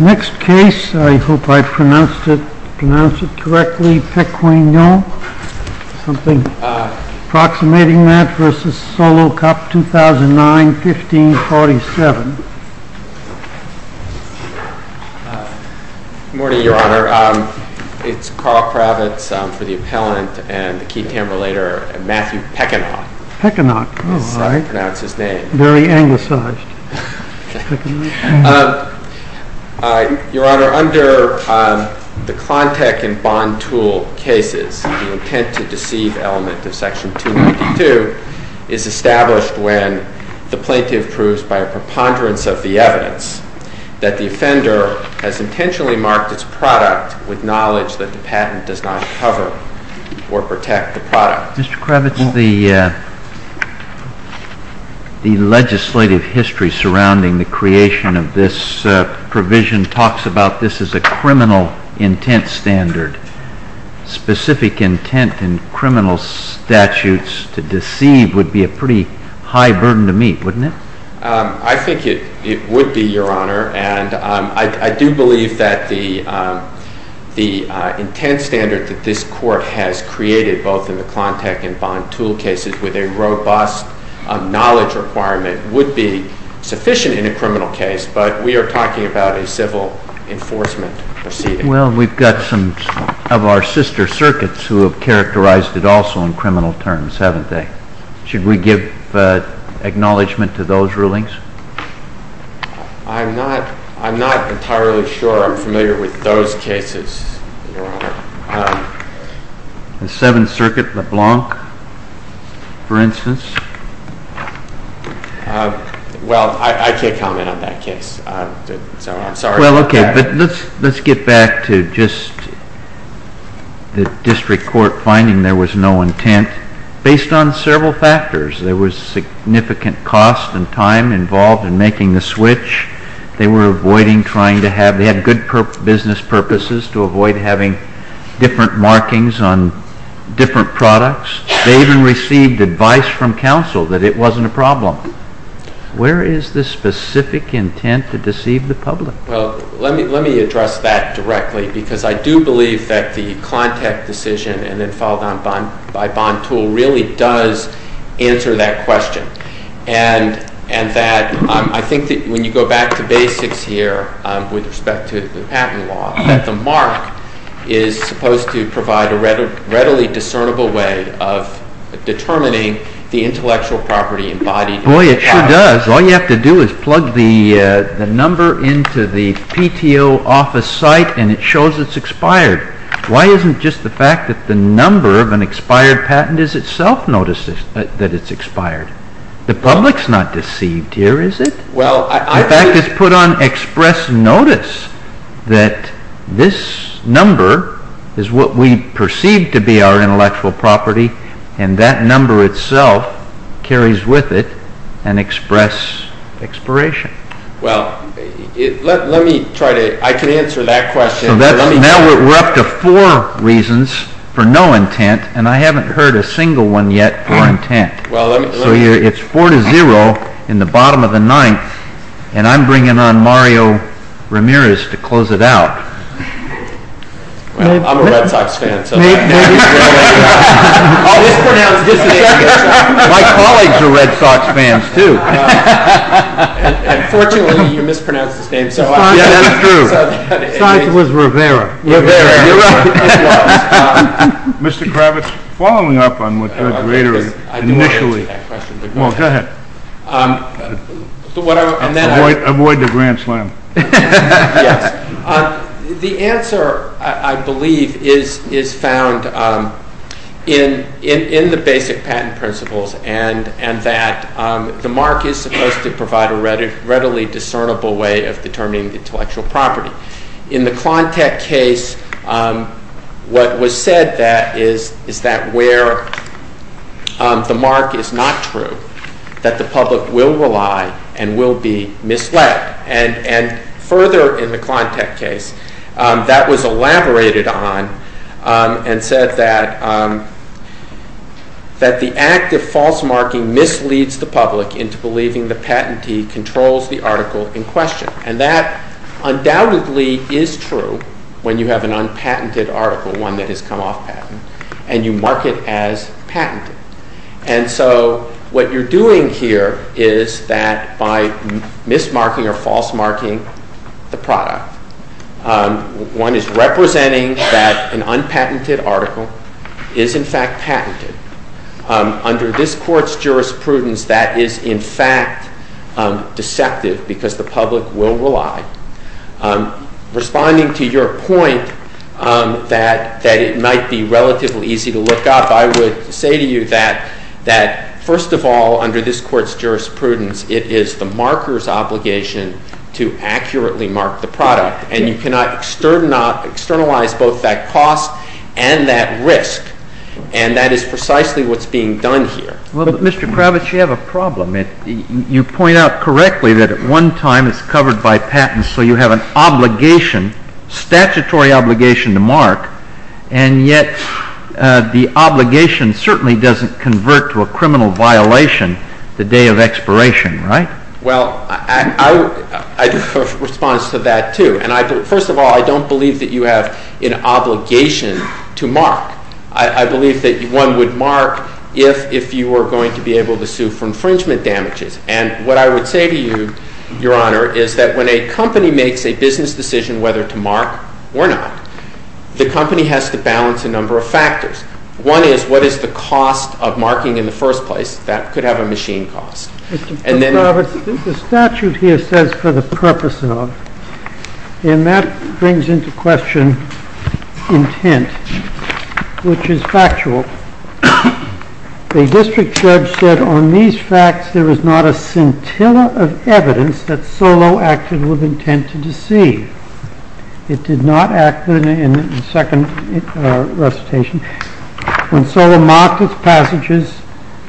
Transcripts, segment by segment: Next case, I hope I pronounced it correctly, Pequignot, something approximating that, v. Solo Cup, 2009, 1547. Good morning, Your Honor. It's Carl Kravitz for the appellant and the key tamberlator, Matthew Pequignot. Pequignot, all right. That's his name. Very anglicized, Pequignot. Your Honor, under the Klontek and Bond Tool cases, the intent to deceive element of section 292 is established when the plaintiff proves by a preponderance of the evidence that the offender has intentionally marked its product with knowledge that the patent does not cover or protect the product. Mr. Kravitz, the legislative history surrounding the creation of this provision talks about this as a criminal intent standard. Specific intent in criminal statutes to deceive would be a pretty high burden to meet, wouldn't it? I think it would be, Your Honor, and I do believe that the intent standard that this Court has created both in the Klontek and Bond Tool cases with a robust knowledge requirement would be sufficient in a criminal case, but we are talking about a civil enforcement proceeding. Well, we've got some of our sister circuits who have characterized it also in criminal terms, haven't they? Should we give acknowledgment to those rulings? I'm not entirely sure I'm familiar with those cases, Your Honor. The Seventh Circuit, LeBlanc, for instance? Well, I can't comment on that case, so I'm sorry. Well, okay, but let's get back to just the District Court finding there was no intent. Based on several factors, there was significant cost and time involved in making the switch. They were avoiding trying to have – they had good business purposes to avoid having different markings on different products. They even received advice from counsel that it wasn't a problem. Where is the specific intent to deceive the public? Well, let me address that directly because I do believe that the Klontek decision and then followed on by Bond Tool really does answer that question. And that I think that when you go back to basics here with respect to the patent law, that the mark is supposed to provide a readily discernible way of determining the intellectual property embodied in the patent. Boy, it sure does. All you have to do is plug the number into the PTO office site and it shows it's expired. Why isn't just the fact that the number of an expired patent is itself noticed that it's expired? The public's not deceived here, is it? Well, I think – In fact, it's put on express notice that this number is what we perceive to be our intellectual property and that number itself carries with it an express expiration. Well, let me try to – I can answer that question. Now we're up to four reasons for no intent, and I haven't heard a single one yet for intent. So it's four to zero in the bottom of the ninth, and I'm bringing on Mario Ramirez to close it out. I'm a Red Sox fan, so – My colleagues are Red Sox fans, too. Unfortunately, you mispronounced his name. That's true. Sox was Rivera. Rivera. It was. Mr. Kravitz, following up on what Greg Rader initially – I didn't want to answer that question. Well, go ahead. Avoid the grand slam. Yes. The answer, I believe, is found in the basic patent principles and that the mark is supposed to provide a readily discernible way of determining intellectual property. In the Klontek case, what was said is that where the mark is not true, that the public will rely and will be misled. And further in the Klontek case, that was elaborated on and said that the act of false marking misleads the public into believing the patentee controls the article in question. And that undoubtedly is true when you have an unpatented article, one that has come off patent, and you mark it as patented. And so what you're doing here is that by mismarking or false marking the product, one is representing that an unpatented article is in fact patented. Under this Court's jurisprudence, that is in fact deceptive because the public will rely. Responding to your point that it might be relatively easy to look up, I would say to you that first of all, under this Court's jurisprudence, it is the marker's obligation to accurately mark the product. And you cannot externalize both that cost and that risk. And that is precisely what's being done here. Well, Mr. Kravitz, you have a problem. You point out correctly that at one time it's covered by patents, so you have an obligation, statutory obligation, to mark. And yet the obligation certainly doesn't convert to a criminal violation the day of expiration, right? Well, I do have a response to that, too. And first of all, I don't believe that you have an obligation to mark. I believe that one would mark if you were going to be able to sue for infringement damages. And what I would say to you, Your Honor, is that when a company makes a business decision whether to mark or not, the company has to balance a number of factors. One is, what is the cost of marking in the first place? That could have a machine cost. Mr. Kravitz, the statute here says, for the purpose of. And that brings into question intent, which is factual. The district judge said on these facts there is not a scintilla of evidence that Solow acted with intent to deceive. It did not act in the second recitation. When Solow marked its passages,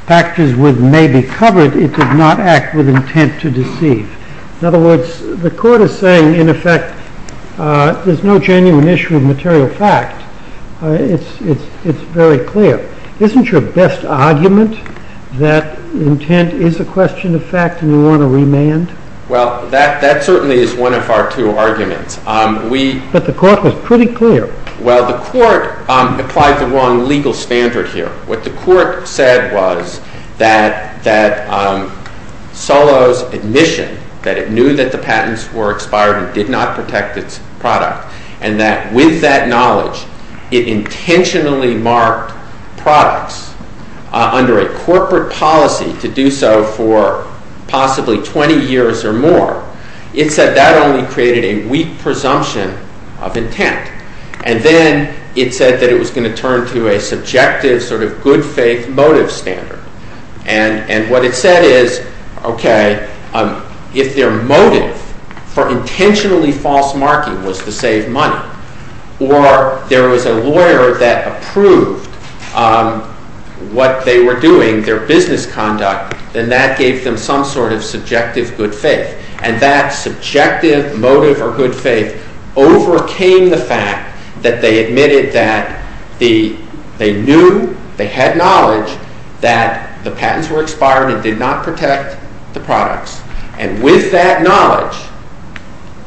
factors which may be covered, it did not act with intent to deceive. In other words, the Court is saying, in effect, there's no genuine issue of material fact. It's very clear. Isn't your best argument that intent is a question of fact and you want to remand? Well, that certainly is one of our two arguments. But the Court was pretty clear. Well, the Court applied the wrong legal standard here. What the Court said was that Solow's admission that it knew that the patents were expired and did not protect its product, and that with that knowledge it intentionally marked products under a corporate policy to do so for possibly 20 years or more, it said that only created a weak presumption of intent. And then it said that it was going to turn to a subjective sort of good-faith motive standard. And what it said is, okay, if their motive for intentionally false marking was to save money, or there was a lawyer that approved what they were doing, their business conduct, then that gave them some sort of subjective good faith. And that subjective motive or good faith overcame the fact that they admitted that they knew, they had knowledge that the patents were expired and did not protect the products. And with that knowledge,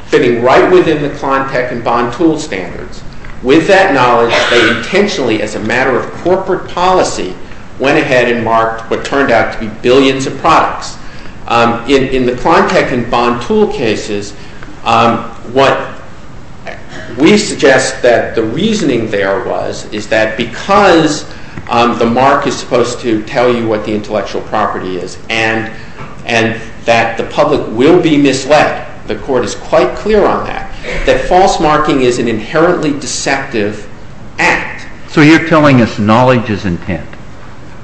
fitting right within the Klontek and Bond Tool standards, with that knowledge they intentionally, as a matter of corporate policy, went ahead and marked what turned out to be billions of products. In the Klontek and Bond Tool cases, what we suggest that the reasoning there was, is that because the mark is supposed to tell you what the intellectual property is, and that the public will be misled, the court is quite clear on that, that false marking is an inherently deceptive act. So you're telling us knowledge is intent.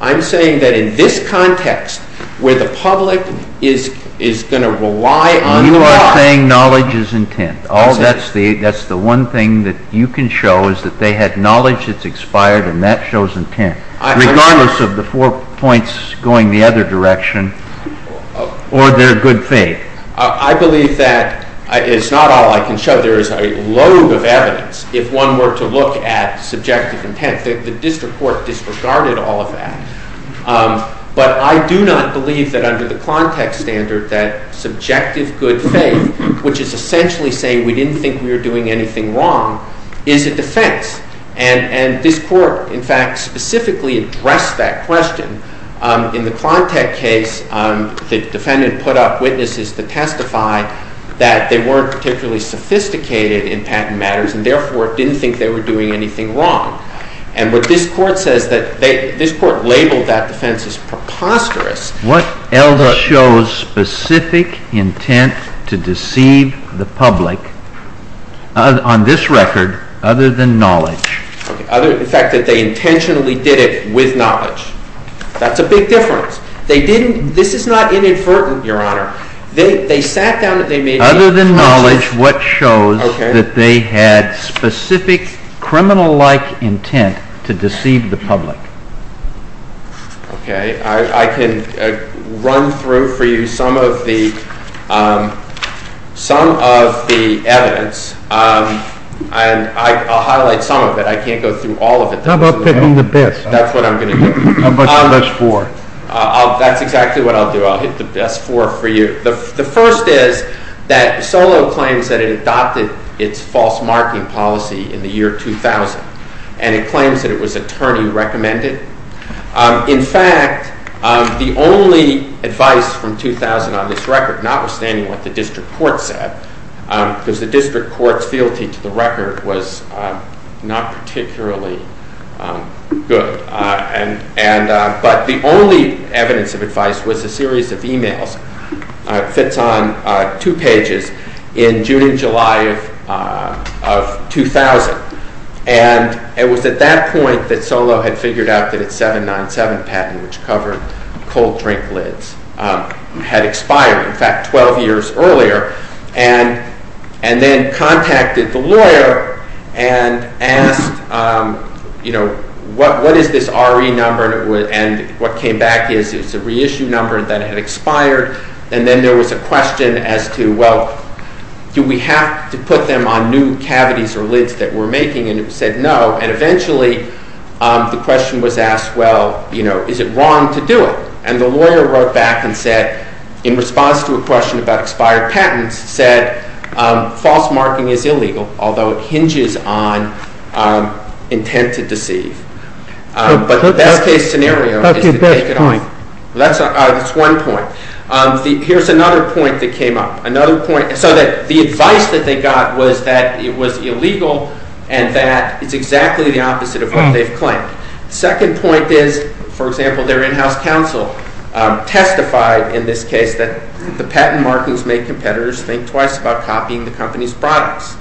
I'm saying that in this context, where the public is going to rely on the law. You are saying knowledge is intent. That's the one thing that you can show, is that they had knowledge that's expired, and that shows intent, regardless of the four points going the other direction, or their good faith. I believe that it's not all I can show. There is a load of evidence, if one were to look at subjective intent. The district court disregarded all of that. But I do not believe that under the Klontek standard, that subjective good faith, which is essentially saying we didn't think we were doing anything wrong, is a defense. And this court, in fact, specifically addressed that question. In the Klontek case, the defendant put up witnesses to testify that they weren't particularly sophisticated in patent matters, and therefore didn't think they were doing anything wrong. And what this court says, this court labeled that defense as preposterous. What else shows specific intent to deceive the public, on this record, other than knowledge? In fact, that they intentionally did it with knowledge. That's a big difference. This is not inadvertent, Your Honor. Other than knowledge, what shows that they had specific criminal-like intent to deceive the public? Okay. I can run through for you some of the evidence. And I'll highlight some of it. I can't go through all of it. How about picking the best? That's what I'm going to do. How about the best four? That's exactly what I'll do. I'll hit the best four for you. The first is that Solow claims that it adopted its false marking policy in the year 2000. And it claims that it was attorney-recommended. In fact, the only advice from 2000 on this record, notwithstanding what the district court said, because the district court's fealty to the record was not particularly good. But the only evidence of advice was a series of e-mails. It fits on two pages, in June and July of 2000. And it was at that point that Solow had figured out that its 797 patent, which covered cold drink lids, had expired. In fact, 12 years earlier. And then contacted the lawyer and asked, you know, what is this RE number? And what came back is it's a reissue number that had expired. And then there was a question as to, well, do we have to put them on new cavities or lids that we're making? And it said no. And eventually the question was asked, well, you know, is it wrong to do it? And the lawyer wrote back and said, in response to a question about expired patents, said false marking is illegal, although it hinges on intent to deceive. But the best case scenario is to take it off. That's one point. Here's another point that came up. Another point, so that the advice that they got was that it was illegal and that it's exactly the opposite of what they've claimed. Second point is, for example, their in-house counsel testified in this case that the patent markings make competitors think twice about copying the company's products.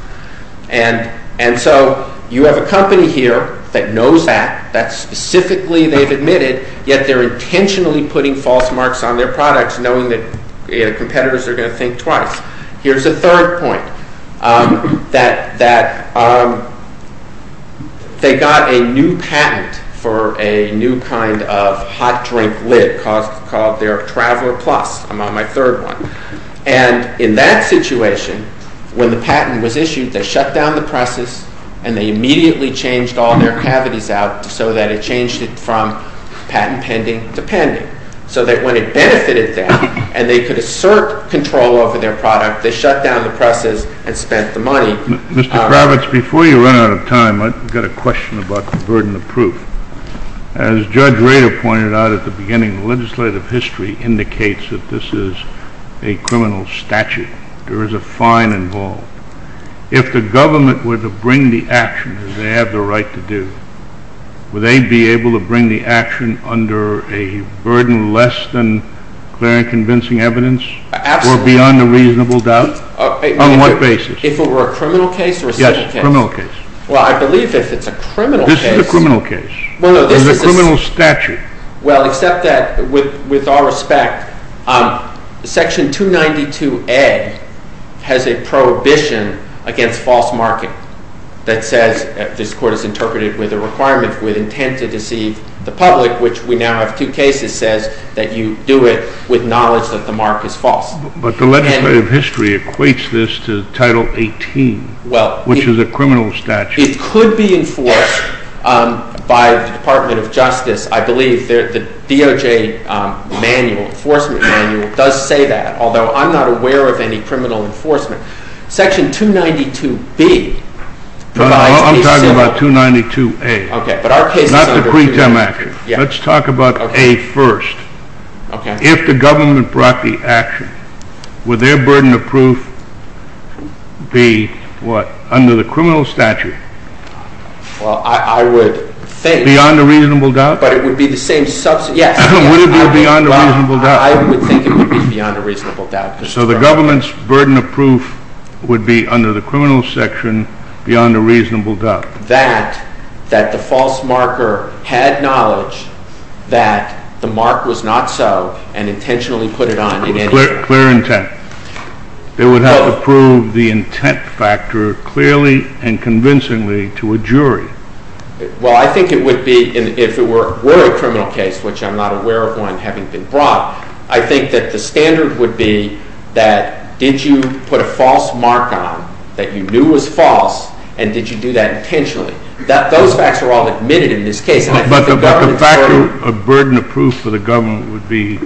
And so you have a company here that knows that, that specifically they've admitted, yet they're intentionally putting false marks on their products knowing that competitors are going to think twice. Here's a third point, that they got a new patent for a new kind of hot drink lid called their Traveler Plus. I'm on my third one. And in that situation, when the patent was issued, they shut down the presses and they immediately changed all their cavities out so that it changed it from patent pending to pending. So that when it benefited them and they could assert control over their product, they shut down the presses and spent the money. Mr. Kravitz, before you run out of time, I've got a question about the burden of proof. As Judge Rader pointed out at the beginning, legislative history indicates that this is a criminal statute. There is a fine involved. If the government were to bring the action, as they have the right to do, would they be able to bring the action under a burden less than clear and convincing evidence? Absolutely. Or beyond a reasonable doubt? On what basis? If it were a criminal case or a civil case? Yes, a criminal case. Well, I believe if it's a criminal case… This is a criminal case. Well, no, this is a… It's a criminal statute. Well, except that with all respect, Section 292A has a prohibition against false marking that says, if this court is interpreted with a requirement with intent to deceive the public, which we now have two cases, says that you do it with knowledge that the mark is false. But the legislative history equates this to Title 18, which is a criminal statute. It could be enforced by the Department of Justice. I believe the DOJ manual, enforcement manual, does say that, although I'm not aware of any criminal enforcement. Section 292B provides… I'm talking about 292A. Okay, but our case is under… Not the pre-tem action. Let's talk about A first. Okay. If the government brought the action, would their burden of proof be what? Under the criminal statute. Well, I would think… Beyond a reasonable doubt? But it would be the same… Yes. Would it be beyond a reasonable doubt? I would think it would be beyond a reasonable doubt. So the government's burden of proof would be under the criminal section beyond a reasonable doubt? That the false marker had knowledge that the mark was not so and intentionally put it on in any… Clear intent. It would have to prove the intent factor clearly and convincingly to a jury. Well, I think it would be, if it were a criminal case, which I'm not aware of one having been brought, I think that the standard would be that did you put a false mark on that you knew was false, and did you do that intentionally? Those facts are all admitted in this case. But the burden of proof for the government would be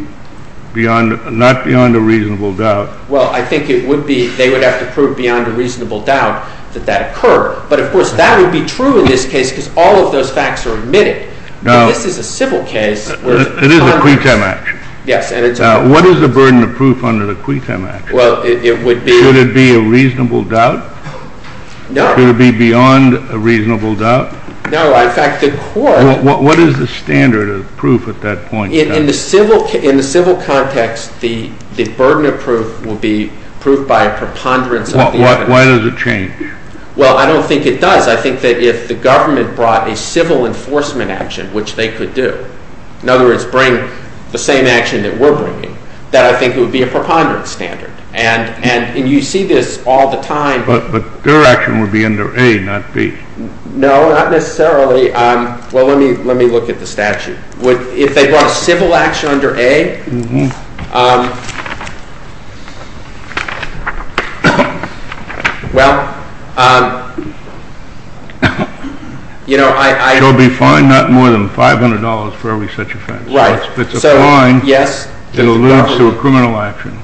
not beyond a reasonable doubt. Well, I think it would be they would have to prove beyond a reasonable doubt that that occurred. But, of course, that would be true in this case because all of those facts are admitted. Now, this is a civil case. It is a quitem action. Yes. What is the burden of proof under the quitem action? Well, it would be… Should it be a reasonable doubt? No. Should it be beyond a reasonable doubt? No. In fact, the court… What is the standard of proof at that point? In the civil context, the burden of proof would be proof by a preponderance of the evidence. Why does it change? Well, I don't think it does. I think that if the government brought a civil enforcement action, which they could do, in other words, bring the same action that we're bringing, that I think it would be a preponderance standard. And you see this all the time. But their action would be under A, not B. No, not necessarily. Well, let me look at the statute. If they brought a civil action under A, well, you know, I… It would be fine, not more than $500 for every such offense. Right. It's a fine. Yes. It alludes to a criminal action.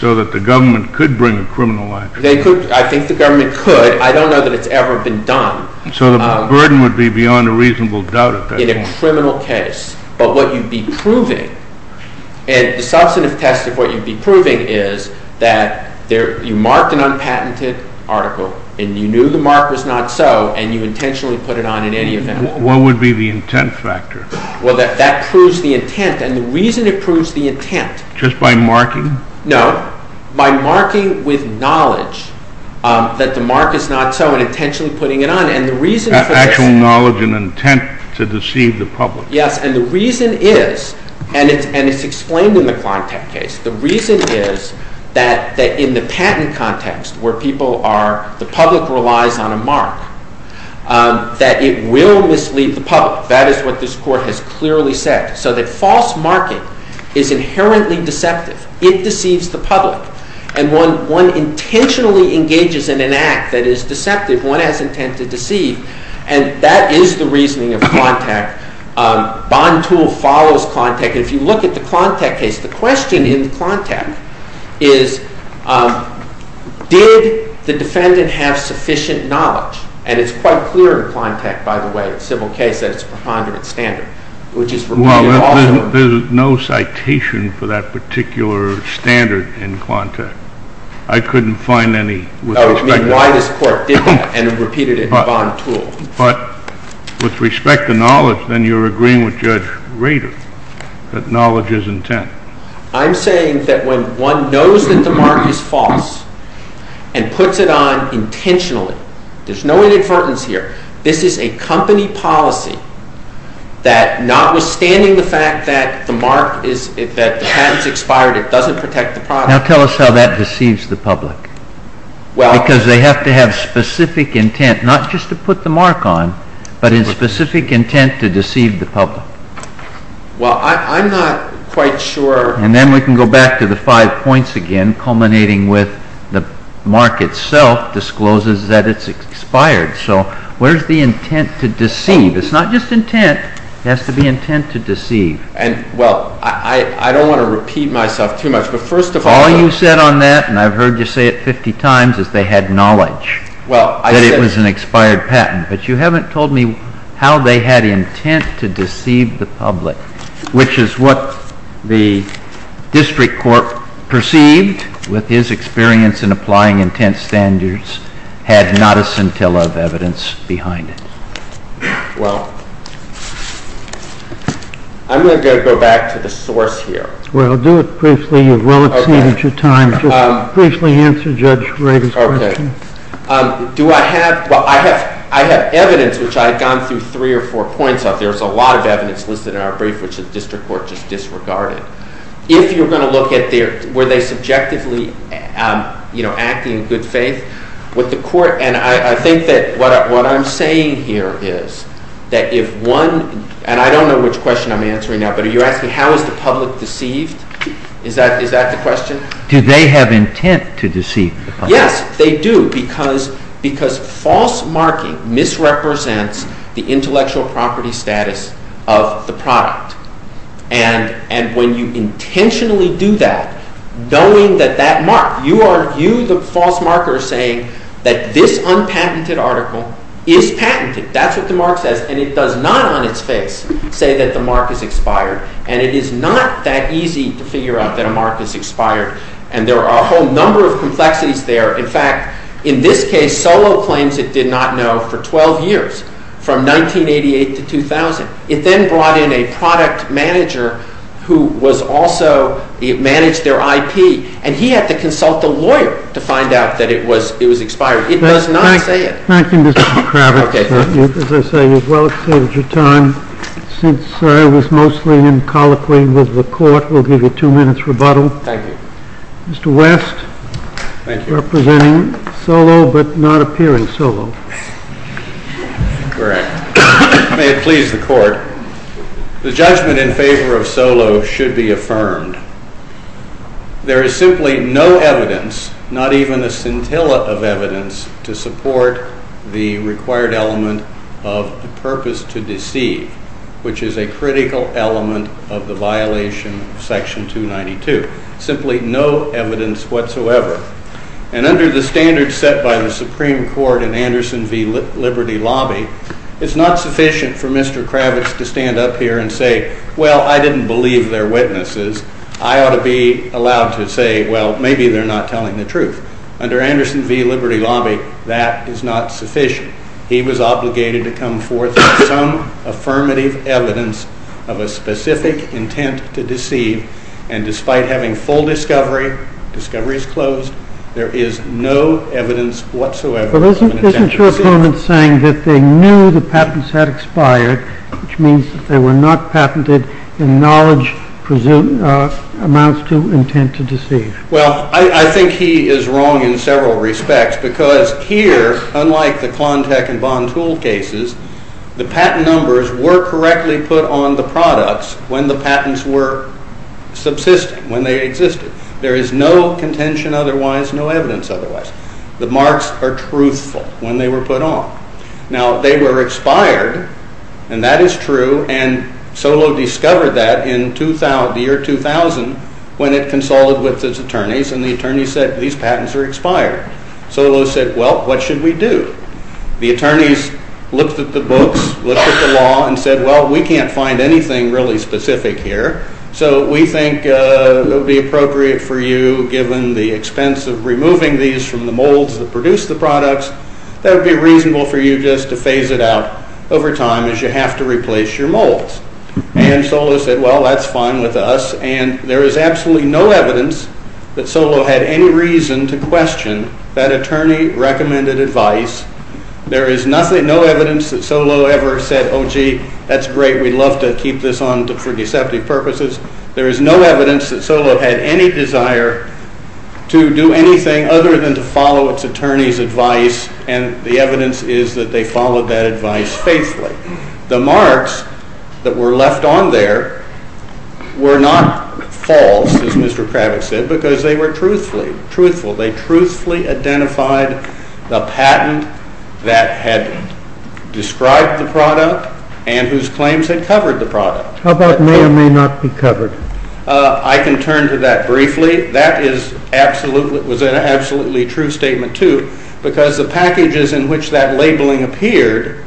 So that the government could bring a criminal action. I think the government could. I don't know that it's ever been done. So the burden would be beyond a reasonable doubt at that point. In a criminal case. But what you'd be proving, and the substantive test of what you'd be proving is that you marked an unpatented article, and you knew the mark was not so, and you intentionally put it on in any event. What would be the intent factor? Well, that proves the intent. And the reason it proves the intent… Just by marking? No. By marking with knowledge that the mark is not so, and intentionally putting it on. And the reason for this… Actual knowledge and intent to deceive the public. Yes. And the reason is, and it's explained in the Klontek case, the reason is that in the patent context, where the public relies on a mark, that it will mislead the public. That is what this Court has clearly said. So that false marking is inherently deceptive. It deceives the public. And when one intentionally engages in an act that is deceptive, one has intent to deceive. And that is the reasoning of Klontek. Bond tool follows Klontek. And if you look at the Klontek case, the question in Klontek is, did the defendant have sufficient knowledge? And it's quite clear in Klontek, by the way, civil case, that it's preponderant standard. Well, there's no citation for that particular standard in Klontek. I couldn't find any. Oh, you mean why this Court did that and repeated it in the bond tool. But with respect to knowledge, then you're agreeing with Judge Rader that knowledge is intent. I'm saying that when one knows that the mark is false and puts it on intentionally, there's no inadvertence here. This is a company policy that, notwithstanding the fact that the mark is, that the patent is expired, it doesn't protect the product. Now tell us how that deceives the public. Because they have to have specific intent, not just to put the mark on, but in specific intent to deceive the public. Well, I'm not quite sure. And then we can go back to the five points again, culminating with the mark itself discloses that it's expired. So where's the intent to deceive? It's not just intent. It has to be intent to deceive. Well, I don't want to repeat myself too much. All you said on that, and I've heard you say it 50 times, is they had knowledge that it was an expired patent. But you haven't told me how they had intent to deceive the public, which is what the district court perceived, with his experience in applying intent standards, had not a scintilla of evidence behind it. Well, I'm going to go back to the source here. Well, do it briefly. You've well exceeded your time. Just briefly answer Judge Rader's question. I have evidence, which I've gone through three or four points of. There's a lot of evidence listed in our brief, which the district court just disregarded. If you're going to look at, were they subjectively acting in good faith with the court? And I think that what I'm saying here is that if one, and I don't know which question I'm answering now, but are you asking how is the public deceived? Is that the question? Do they have intent to deceive the public? Yes, they do, because false marking misrepresents the intellectual property status of the product. And when you intentionally do that, knowing that that mark, you, the false marker, are saying that this unpatented article is patented. That's what the mark says, and it does not on its face say that the mark is expired. And it is not that easy to figure out that a mark is expired. And there are a whole number of complexities there. In fact, in this case, Solow claims it did not know for 12 years, from 1988 to 2000. It then brought in a product manager who was also, managed their IP, and he had to consult a lawyer to find out that it was expired. It does not say it. Thank you, Mr. Kravitz. As I say, you've well saved your time. Since I was mostly in colloquy with the court, we'll give you two minutes rebuttal. Thank you. Mr. West, representing Solow, but not appearing Solow. Correct. May it please the court. The judgment in favor of Solow should be affirmed. There is simply no evidence, not even a scintilla of evidence, to support the required element of the purpose to deceive, which is a critical element of the violation of Section 292. Simply no evidence whatsoever. And under the standards set by the Supreme Court in Anderson v. Liberty Lobby, it's not sufficient for Mr. Kravitz to stand up here and say, well, I didn't believe their witnesses. I ought to be allowed to say, well, maybe they're not telling the truth. Under Anderson v. Liberty Lobby, that is not sufficient. He was obligated to come forth with some affirmative evidence of a specific intent to deceive, and despite having full discovery, discovery is closed, there is no evidence whatsoever of an intent to deceive. But isn't your opponent saying that they knew the patents had expired, which means that they were not patented in knowledge amounts to intent to deceive? Well, I think he is wrong in several respects, because here, unlike the Klontek and Bond tool cases, the patent numbers were correctly put on the products when the patents were subsisting, when they existed. There is no contention otherwise, no evidence otherwise. The marks are truthful when they were put on. Now, they were expired, and that is true, and Solow discovered that in the year 2000 when it consolidated with his attorneys, and the attorneys said, these patents are expired. Solow said, well, what should we do? The attorneys looked at the books, looked at the law, and said, well, we can't find anything really specific here, so we think it would be appropriate for you, given the expense of removing these from the molds that produce the products, that it would be reasonable for you just to phase it out over time, as you have to replace your molds. And Solow said, well, that's fine with us, and there is absolutely no evidence that Solow had any reason to question that attorney recommended advice. There is no evidence that Solow ever said, oh, gee, that's great, we'd love to keep this on for deceptive purposes. There is no evidence that Solow had any desire to do anything other than to follow its attorney's advice, and the evidence is that they followed that advice faithfully. The marks that were left on there were not false, as Mr. Kravitz said, because they were truthful. They truthfully identified the patent that had described the product and whose claims had covered the product. How about may or may not be covered? I can turn to that briefly. That was an absolutely true statement, too, because the packages in which that labeling appeared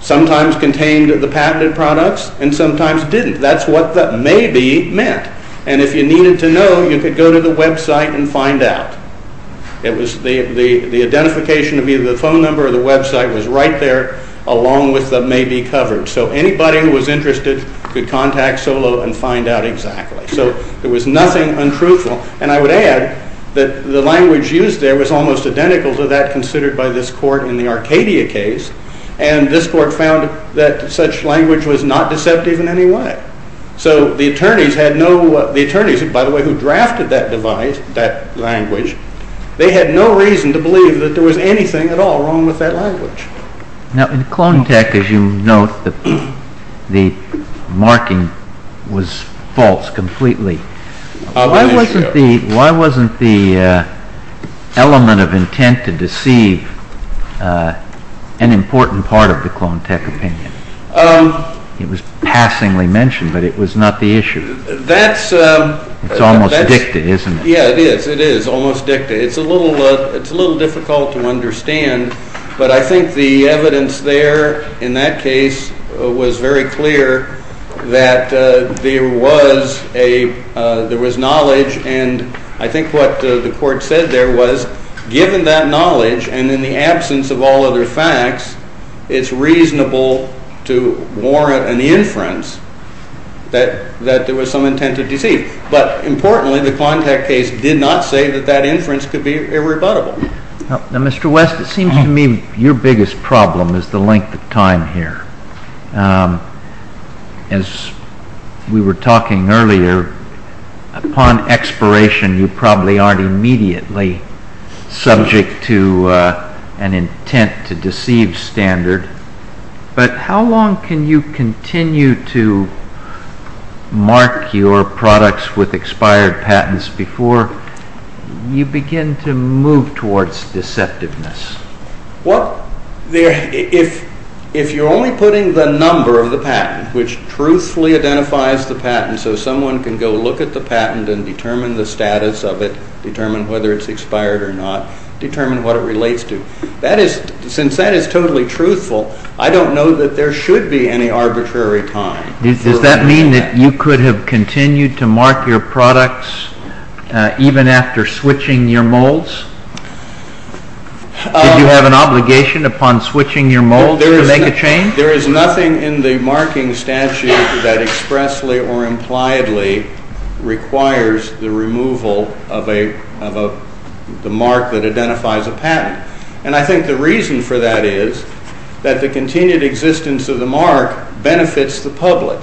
sometimes contained the patented products and sometimes didn't. That's what the maybe meant. And if you needed to know, you could go to the website and find out. The identification of either the phone number or the website was right there along with the maybe covered, so anybody who was interested could contact Solow and find out exactly. So there was nothing untruthful. And I would add that the language used there was almost identical to that considered by this court in the Arcadia case, and this court found that such language was not deceptive in any way. So the attorneys, by the way, who drafted that language, they had no reason to believe that there was anything at all wrong with that language. Now, in Clone Tech, as you note, the marking was false completely. Why wasn't the element of intent to deceive an important part of the Clone Tech opinion? It was passingly mentioned, but it was not the issue. It's almost dicta, isn't it? Yeah, it is. It is almost dicta. It's a little difficult to understand, but I think the evidence there in that case was very clear that there was knowledge, and I think what the court said there was given that knowledge and in the absence of all other facts, it's reasonable to warrant an inference that there was some intent to deceive. But importantly, the Clone Tech case did not say that that inference could be irrebuttable. Now, Mr. West, it seems to me your biggest problem is the length of time here. As we were talking earlier, upon expiration, you probably aren't immediately subject to an intent to deceive standard, but how long can you continue to mark your products with expired patents before you begin to move towards deceptiveness? Well, if you're only putting the number of the patent, which truthfully identifies the patent, so someone can go look at the patent and determine the status of it, determine whether it's expired or not, determine what it relates to, since that is totally truthful, I don't know that there should be any arbitrary time. Does that mean that you could have continued to mark your products even after switching your molds? Did you have an obligation upon switching your molds to make a change? There is nothing in the marking statute that expressly or impliedly requires the removal of the mark that identifies a patent. And I think the reason for that is that the continued existence of the mark benefits the public,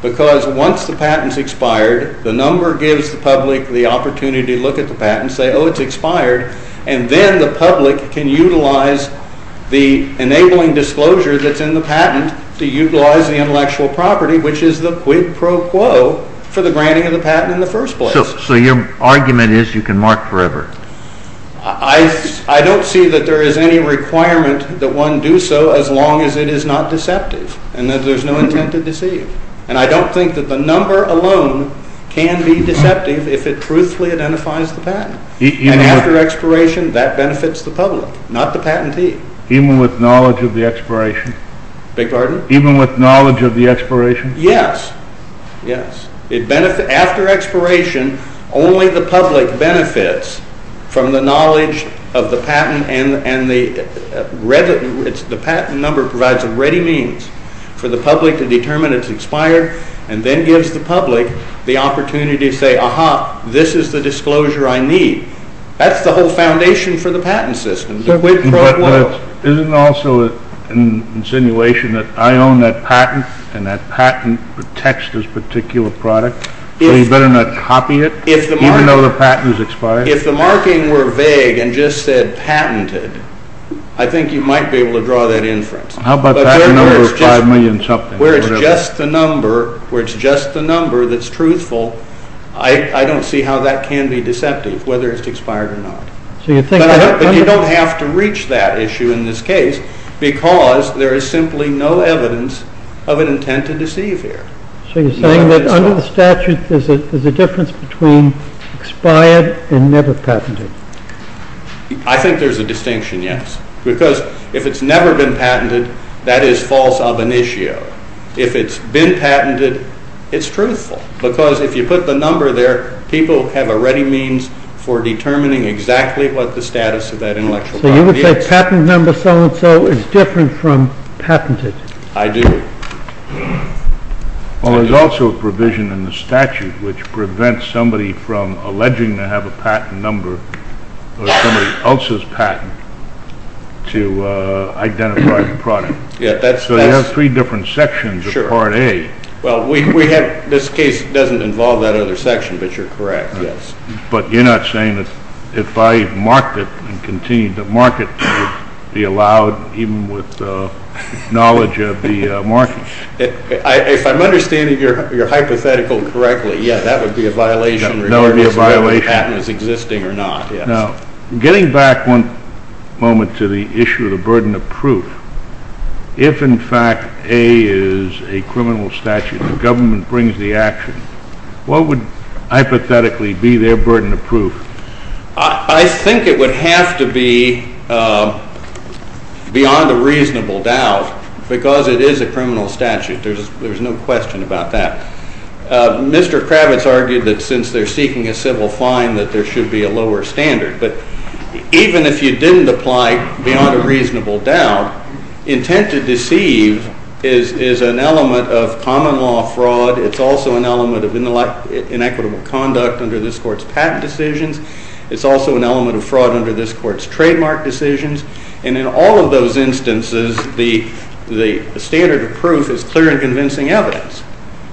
because once the patent's expired, the number gives the public the opportunity to look at the patent and say, to utilize the intellectual property, which is the quid pro quo for the granting of the patent in the first place. So your argument is you can mark forever? I don't see that there is any requirement that one do so as long as it is not deceptive and that there's no intent to deceive. And I don't think that the number alone can be deceptive if it truthfully identifies the patent. And after expiration, that benefits the public, not the patentee. Even with knowledge of the expiration? Yes. After expiration, only the public benefits from the knowledge of the patent, and the patent number provides a ready means for the public to determine it's expired, and then gives the public the opportunity to say, aha, this is the disclosure I need. That's the whole foundation for the patent system, the quid pro quo. Isn't it also an insinuation that I own that patent, and that patent protects this particular product, but he better not copy it, even though the patent is expired? If the marking were vague and just said patented, I think you might be able to draw that inference. How about that number of five million something? Where it's just the number, where it's just the number that's truthful, I don't see how that can be deceptive, whether it's expired or not. But you don't have to reach that issue in this case, because there is simply no evidence of an intent to deceive here. So you're saying that under the statute, there's a difference between expired and never patented? I think there's a distinction, yes. Because if it's never been patented, that is false ab initio. If it's been patented, it's truthful. Because if you put the number there, people have a ready means for determining exactly what the status of that intellectual property is. So you would say patent number so-and-so is different from patented? I do. Well, there's also a provision in the statute which prevents somebody from alleging to have a patent number, or somebody else's patent, to identify the product. So you have three different sections of Part A. Well, this case doesn't involve that other section, but you're correct, yes. But you're not saying that if I marked it and continued to mark it, it would be allowed, even with knowledge of the marking? If I'm understanding your hypothetical correctly, yes, that would be a violation regardless of whether the patent is existing or not. Now, getting back one moment to the issue of the burden of proof, if in fact A is a criminal statute and the government brings the action, what would hypothetically be their burden of proof? I think it would have to be, beyond a reasonable doubt, because it is a criminal statute. There's no question about that. Mr. Kravitz argued that since they're seeking a civil fine, that there should be a lower standard. But even if you didn't apply beyond a reasonable doubt, intent to deceive is an element of common law fraud. It's also an element of inequitable conduct under this Court's patent decisions. It's also an element of fraud under this Court's trademark decisions. And in all of those instances, the standard of proof is clear and convincing evidence.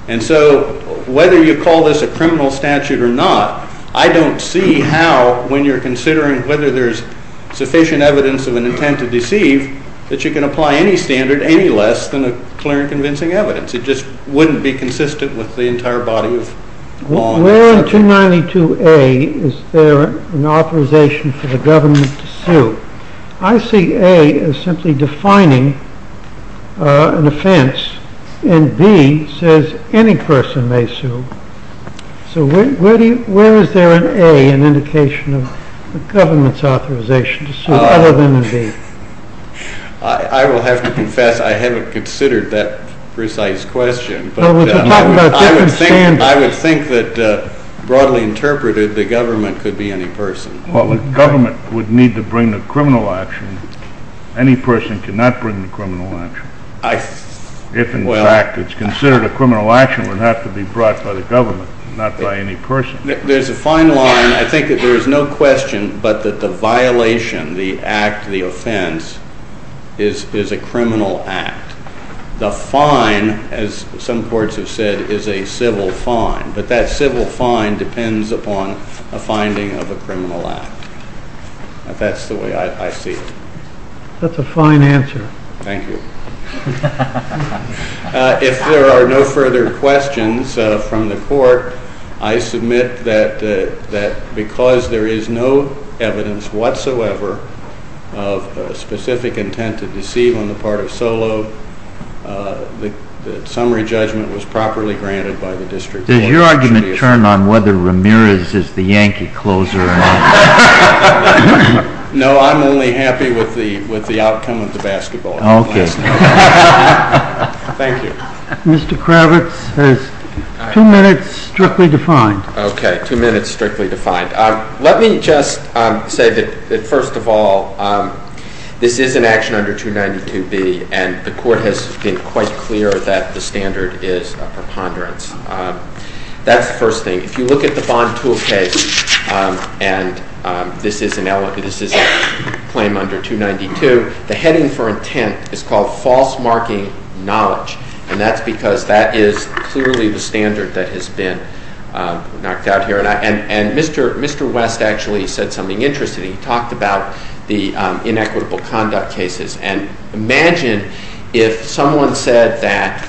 And so whether you call this a criminal statute or not, I don't see how, when you're considering whether there's sufficient evidence of an intent to deceive, that you can apply any standard any less than a clear and convincing evidence. It just wouldn't be consistent with the entire body of law. Where in 292A is there an authorization for the government to sue? I see A as simply defining an offense. And B says any person may sue. So where is there in A an indication of the government's authorization to sue other than in B? I will have to confess I haven't considered that precise question. I would think that broadly interpreted, the government could be any person. Well, the government would need to bring the criminal action. Any person cannot bring the criminal action. If, in fact, it's considered a criminal action, it would have to be brought by the government, not by any person. There's a fine line. I think that there is no question but that the violation, the act, the offense, is a criminal act. The fine, as some courts have said, is a civil fine. But that civil fine depends upon a finding of a criminal act. That's the way I see it. That's a fine answer. Thank you. If there are no further questions from the court, I submit that because there is no evidence whatsoever of specific intent to deceive on the part of Solow, the summary judgment was properly granted by the district court. Does your argument turn on whether Ramirez is the Yankee closer or not? No, I'm only happy with the outcome of the basketball. Okay. Thank you. Mr. Kravitz, there's two minutes strictly defined. Okay, two minutes strictly defined. Let me just say that, first of all, this is an action under 292B, and the court has been quite clear that the standard is a preponderance. That's the first thing. If you look at the Bond Tool case, and this is a claim under 292, the heading for intent is called false marking knowledge, and that's because that is clearly the standard that has been knocked out here. And Mr. West actually said something interesting. He talked about the inequitable conduct cases. And imagine if someone said that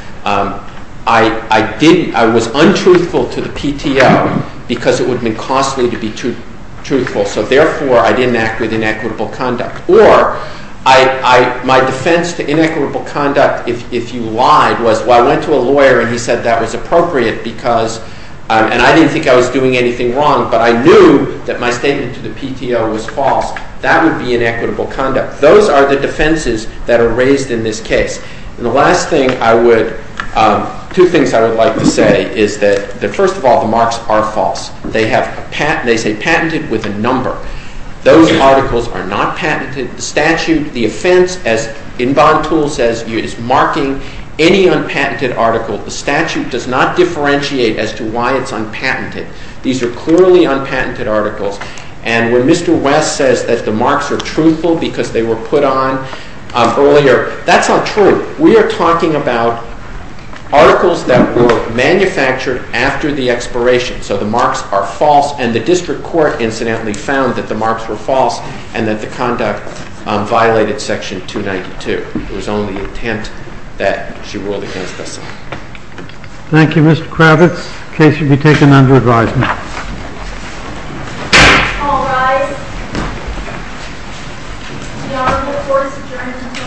I was untruthful to the PTO because it would have been costly to be truthful, so therefore I didn't act with inequitable conduct. Or my defense to inequitable conduct, if you lied, was, well, I went to a lawyer and he said that was appropriate because and I didn't think I was doing anything wrong, but I knew that my statement to the PTO was false. That would be inequitable conduct. Those are the defenses that are raised in this case. And the last thing I would, two things I would like to say is that, first of all, the marks are false. They say patented with a number. Those articles are not patented. The statute, the offense, as Inbon Toole says, is marking any unpatented article. The statute does not differentiate as to why it's unpatented. These are clearly unpatented articles. And when Mr. West says that the marks are truthful because they were put on earlier, that's not true. We are talking about articles that were manufactured after the expiration, so the marks are false. And the district court incidentally found that the marks were false and that the conduct violated Section 292. It was only intent that she ruled against us. Thank you, Mr. Kravitz. The case will be taken under advisement. All rise. The honorable court is adjourned until tomorrow morning at 10 o'clock.